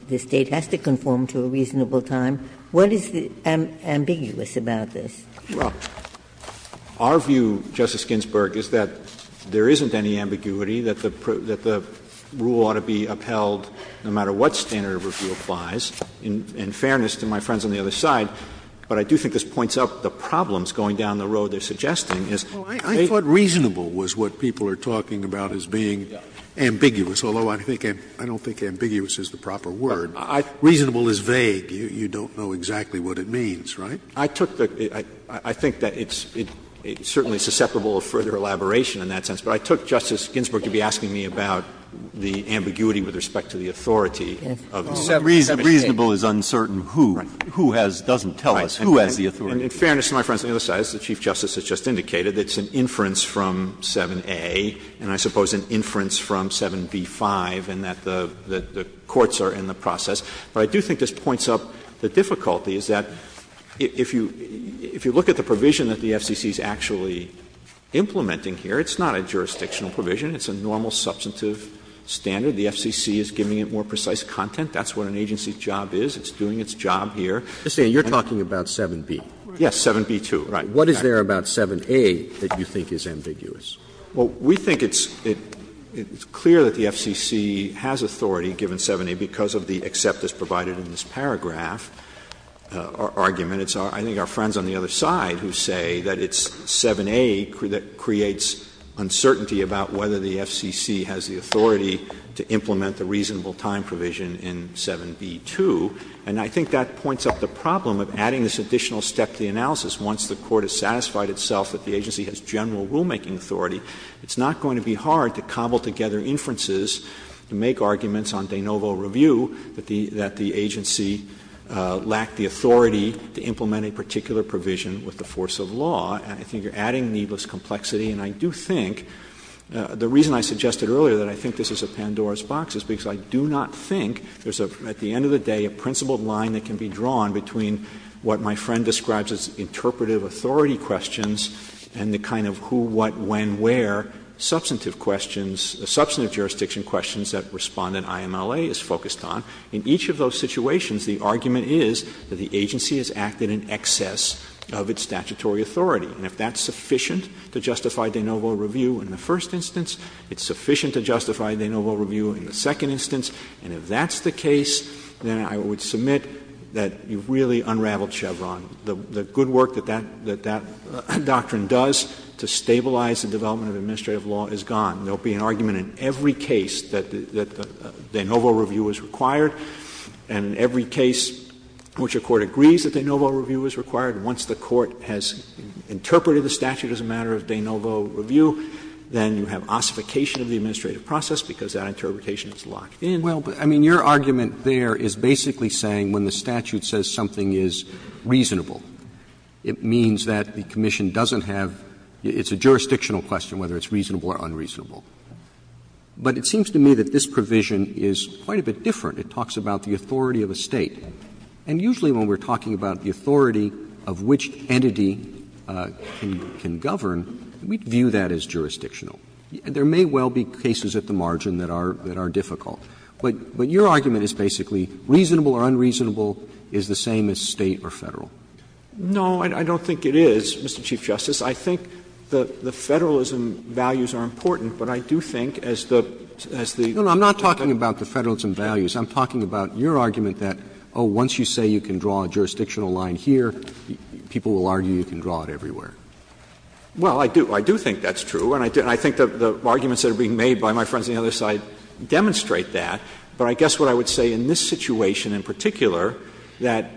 The State has to conform to a reasonable time. What is ambiguous about this? Verrilli, Jr. Well, our view, Justice Ginsburg, is that there isn't any ambiguity, that the rule ought to be upheld no matter what standard of review applies. In fairness to my friends on the other side, but I do think this points up the problems going down the road they're suggesting, is they Scalia I thought reasonable was what people are talking about as being ambiguous, although I think I don't think ambiguous is the proper word. Reasonable is vague. You don't know exactly what it means, right? Verrilli, Jr. I took the – I think that it's certainly susceptible of further elaboration in that sense, but I took Justice Ginsburg to be asking me about the ambiguity with respect to the authority of the 7A. Breyer, reasonable is uncertain who, who has – doesn't tell us who has the authority. Verrilli, Jr. In fairness to my friends on the other side, as the Chief Justice has just indicated, it's an inference from 7A and I suppose an inference from 7B-5 in that the courts are in the process. But I do think this points up the difficulty, is that if you look at the provision that the FCC is actually implementing here, it's not a jurisdictional provision. It's a normal substantive standard. The FCC is giving it more precise content. That's what an agency's job is. It's doing its job here. Roberts, and you're talking about 7B. Verrilli, Jr. Yes, 7B-2, right. What is there about 7A that you think is ambiguous? Verrilli, Jr. Well, we think it's clear that the FCC has authority given 7A because of the except that's provided in this paragraph, our argument. It's our – I think our friends on the other side who say that it's 7A that creates uncertainty about whether the FCC has the authority to implement the reasonable time provision in 7B-2, and I think that points up the problem of adding this additional step to the analysis. Once the Court has satisfied itself that the agency has general rulemaking authority, it's not going to be hard to cobble together inferences to make arguments on de novo review that the agency lacked the authority to implement a particular provision with the force of law. I think you're adding needless complexity, and I do think, the reason I suggested earlier that I think this is a Pandora's box is because I do not think there's a, at the end of the day, a principled line that can be drawn between what my friend describes as interpretive authority questions and the kind of who, what, when, where substantive questions, substantive jurisdiction questions that Respondent IMLA is focused on. In each of those situations, the argument is that the agency has acted in excess of its statutory authority. And if that's sufficient to justify de novo review in the first instance, it's sufficient to justify de novo review in the second instance, and if that's the case, then I would submit that you've really unraveled Chevron. The good work that that doctrine does to stabilize the development of administrative law is gone. There will be an argument in every case that de novo review is required, and in every case in which a court agrees that de novo review is required, once the Court has interpreted the statute as a matter of de novo review, then you have ossification of the administrative process because that interpretation is locked in. Roberts, I mean, your argument there is basically saying when the statute says something is reasonable, it means that the commission doesn't have — it's a jurisdictional question whether it's reasonable or unreasonable. But it seems to me that this provision is quite a bit different. It talks about the authority of a State. And usually when we're talking about the authority of which entity can govern, we view that as jurisdictional. There may well be cases at the margin that are difficult. But your argument is basically reasonable or unreasonable is the same as State or Federal. No, I don't think it is, Mr. Chief Justice. I think the Federalism values are important, but I do think as the — No, no. I'm not talking about the Federalism values. I'm talking about your argument that, oh, once you say you can draw a jurisdictional line here, people will argue you can draw it everywhere. Well, I do. I do think that's true. And I think the arguments that are being made by my friends on the other side demonstrate that. But I guess what I would say in this situation in particular, that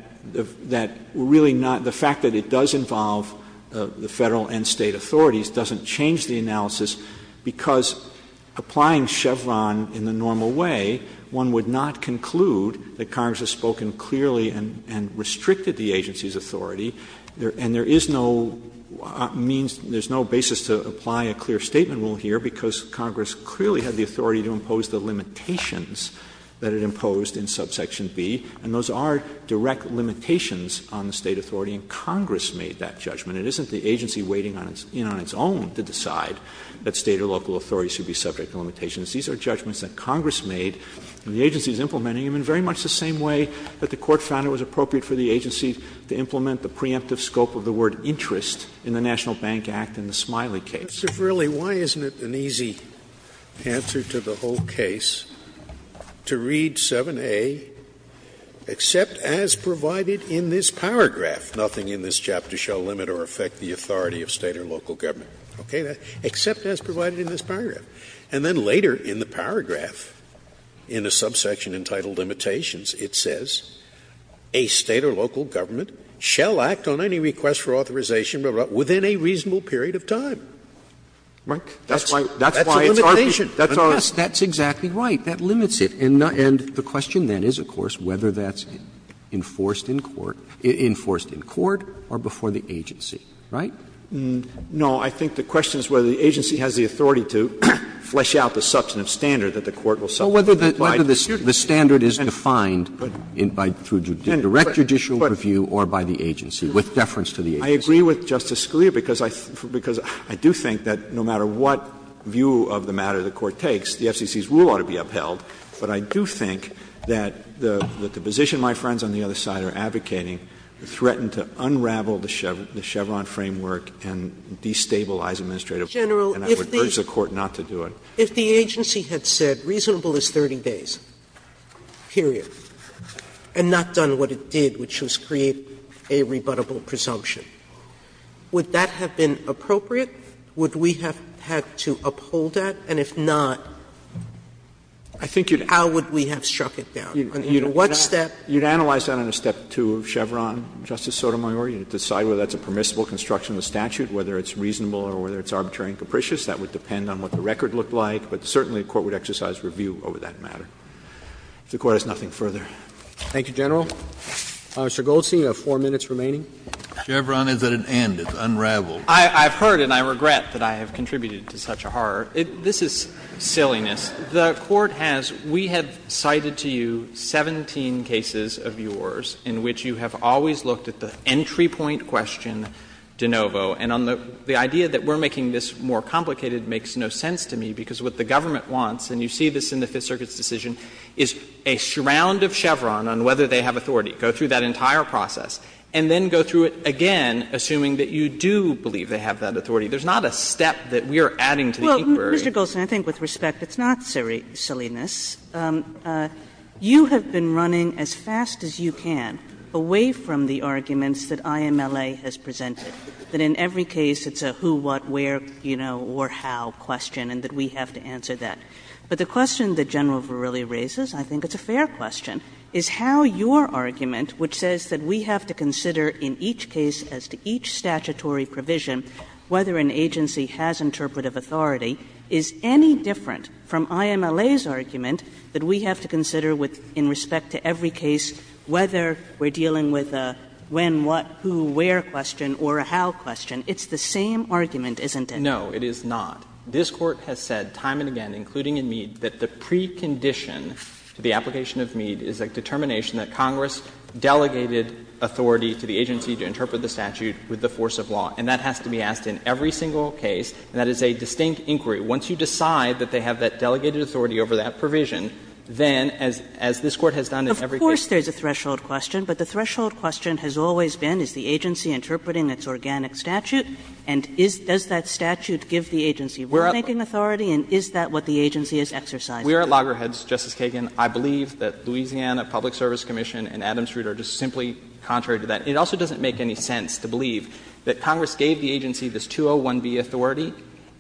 really not — the because applying Chevron in the normal way, one would not conclude that Congress has spoken clearly and restricted the agency's authority. And there is no means — there's no basis to apply a clear statement rule here, because Congress clearly had the authority to impose the limitations that it imposed in subsection B. And those are direct limitations on the State authority, and Congress made that judgment. It isn't the agency waiting in on its own to decide that State or local authorities should be subject to limitations. These are judgments that Congress made, and the agency is implementing them in very much the same way that the Court found it was appropriate for the agency to implement the preemptive scope of the word interest in the National Bank Act in the Smiley case. Scalia. Mr. Verrilli, why isn't it an easy answer to the whole case to read 7a, except as provided in this paragraph, nothing in this chapter shall limit or affect the authority of State or local government. Okay? Except as provided in this paragraph. And then later in the paragraph, in a subsection entitled Limitations, it says, a State or local government shall act on any request for authorization within a reasonable Verrilli, That's why it's our view. Roberts, That's why it's our view. Verrilli, Yes, that's exactly right. That limits it. And the question then is, of course, whether that's enforced in court or before the agency, right? No. I think the question is whether the agency has the authority to flesh out the substantive standard that the Court will subject to. Whether the standard is defined by direct judicial review or by the agency, with deference to the agency. I agree with Justice Scalia, because I do think that no matter what view of the matter the Court takes, the FCC's rule ought to be upheld, but I do think that the position my friends on the other side are advocating threaten to unravel the Chevron framework and destabilize administrative. Sotomayor, General, if the agency had said reasonable is 30 days, period, and not done what it did, which was create a rebuttable presumption, would that have been appropriate? Would we have had to uphold that? And if not, how would we have struck it down? What step? You would analyze that under Step 2 of Chevron, Justice Sotomayor. You would decide whether that's a permissible construction of the statute, whether it's reasonable or whether it's arbitrary and capricious. That would depend on what the record looked like, but certainly the Court would exercise review over that matter. If the Court has nothing further. Thank you, General. Mr. Goldstein, you have 4 minutes remaining. Chevron is at an end. It's unraveled. I've heard and I regret that I have contributed to such a horror. This is silliness. The Court has we have cited to you 17 cases of yours in which you have always looked at the entry point question de novo. And on the idea that we're making this more complicated makes no sense to me, because what the government wants, and you see this in the Fifth Circuit's decision, is a surround of Chevron on whether they have authority. Go through that entire process. And then go through it again, assuming that you do believe they have that authority. There's not a step that we are adding to the inquiry. Well, Mr. Goldstein, I think with respect, it's not silliness. You have been running as fast as you can away from the arguments that IMLA has presented, that in every case it's a who, what, where, you know, or how question, and that we have to answer that. But the question that General Verrilli raises, I think it's a fair question, is how your argument, which says that we have to consider in each case as to each statutory provision whether an agency has interpretive authority, is any different from IMLA's argument that we have to consider with respect to every case whether we're dealing with a when, what, who, where question or a how question. It's the same argument, isn't it? No, it is not. This Court has said time and again, including in Mead, that the precondition to the application of Mead is a determination that Congress delegated authority to the agency to interpret the statute with the force of law. And that has to be asked in every single case, and that is a distinct inquiry. Once you decide that they have that delegated authority over that provision, then, as this Court has done in every case. Kagan, of course, there's a threshold question, but the threshold question has always been, is the agency interpreting its organic statute, and does that statute give the agency rulemaking authority, and is that what the agency is exercising? We're at loggerheads, Justice Kagan. I believe that Louisiana Public Service Commission and Adams-Root are just simply contrary to that. It also doesn't make any sense to believe that Congress gave the agency this 201B authority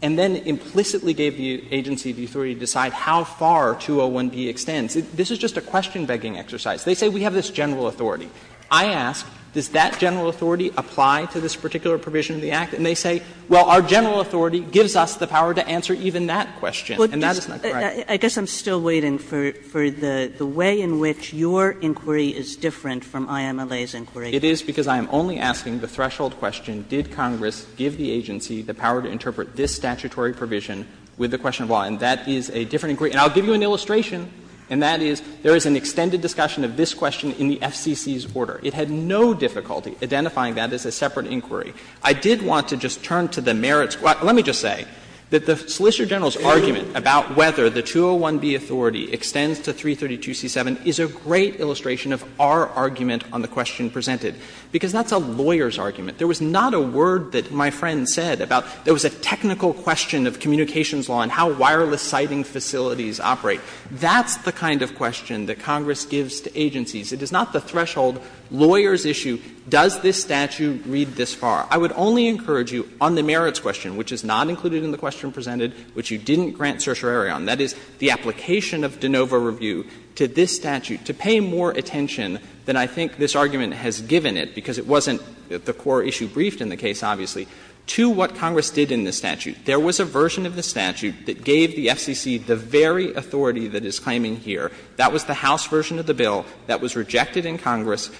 and then implicitly gave the agency the authority to decide how far 201B extends. This is just a question-begging exercise. They say we have this general authority. I ask, does that general authority apply to this particular provision of the Act? And they say, well, our general authority gives us the power to answer even that question, and that is not correct. Kagan, I guess I'm still waiting for the way in which your inquiry is different from IMLA's inquiry. It is because I am only asking the threshold question, did Congress give the agency the power to interpret this statutory provision with the question of law, and that is a different inquiry. And I'll give you an illustration, and that is, there is an extended discussion of this question in the FCC's order. It had no difficulty identifying that as a separate inquiry. I did want to just turn to the merits. Let me just say that the Solicitor General's argument about whether the 201B authority extends to 332C7 is a great illustration of our argument on the question presented, because that's a lawyer's argument. There was not a word that my friend said about there was a technical question of communications law and how wireless sighting facilities operate. That's the kind of question that Congress gives to agencies. It is not the threshold lawyer's issue, does this statute read this far. I would only encourage you on the merits question, which is not included in the question presented, which you didn't grant certiorari on, that is, the application of de novo review to this statute to pay more attention than I think this argument has given it, because it wasn't the core issue briefed in the case, obviously, to what Congress did in this statute. There was a version of this statute that gave the FCC the very authority that it's claiming here. That was the House version of the bill that was rejected in Congress,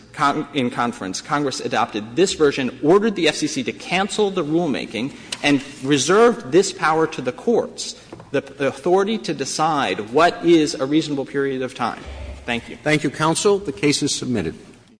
in conference. Congress adopted this version, ordered the FCC to cancel the rulemaking, and reserved this power to the courts, the authority to decide what is a reasonable period of time. Thank you. Thank you, counsel. The case is submitted.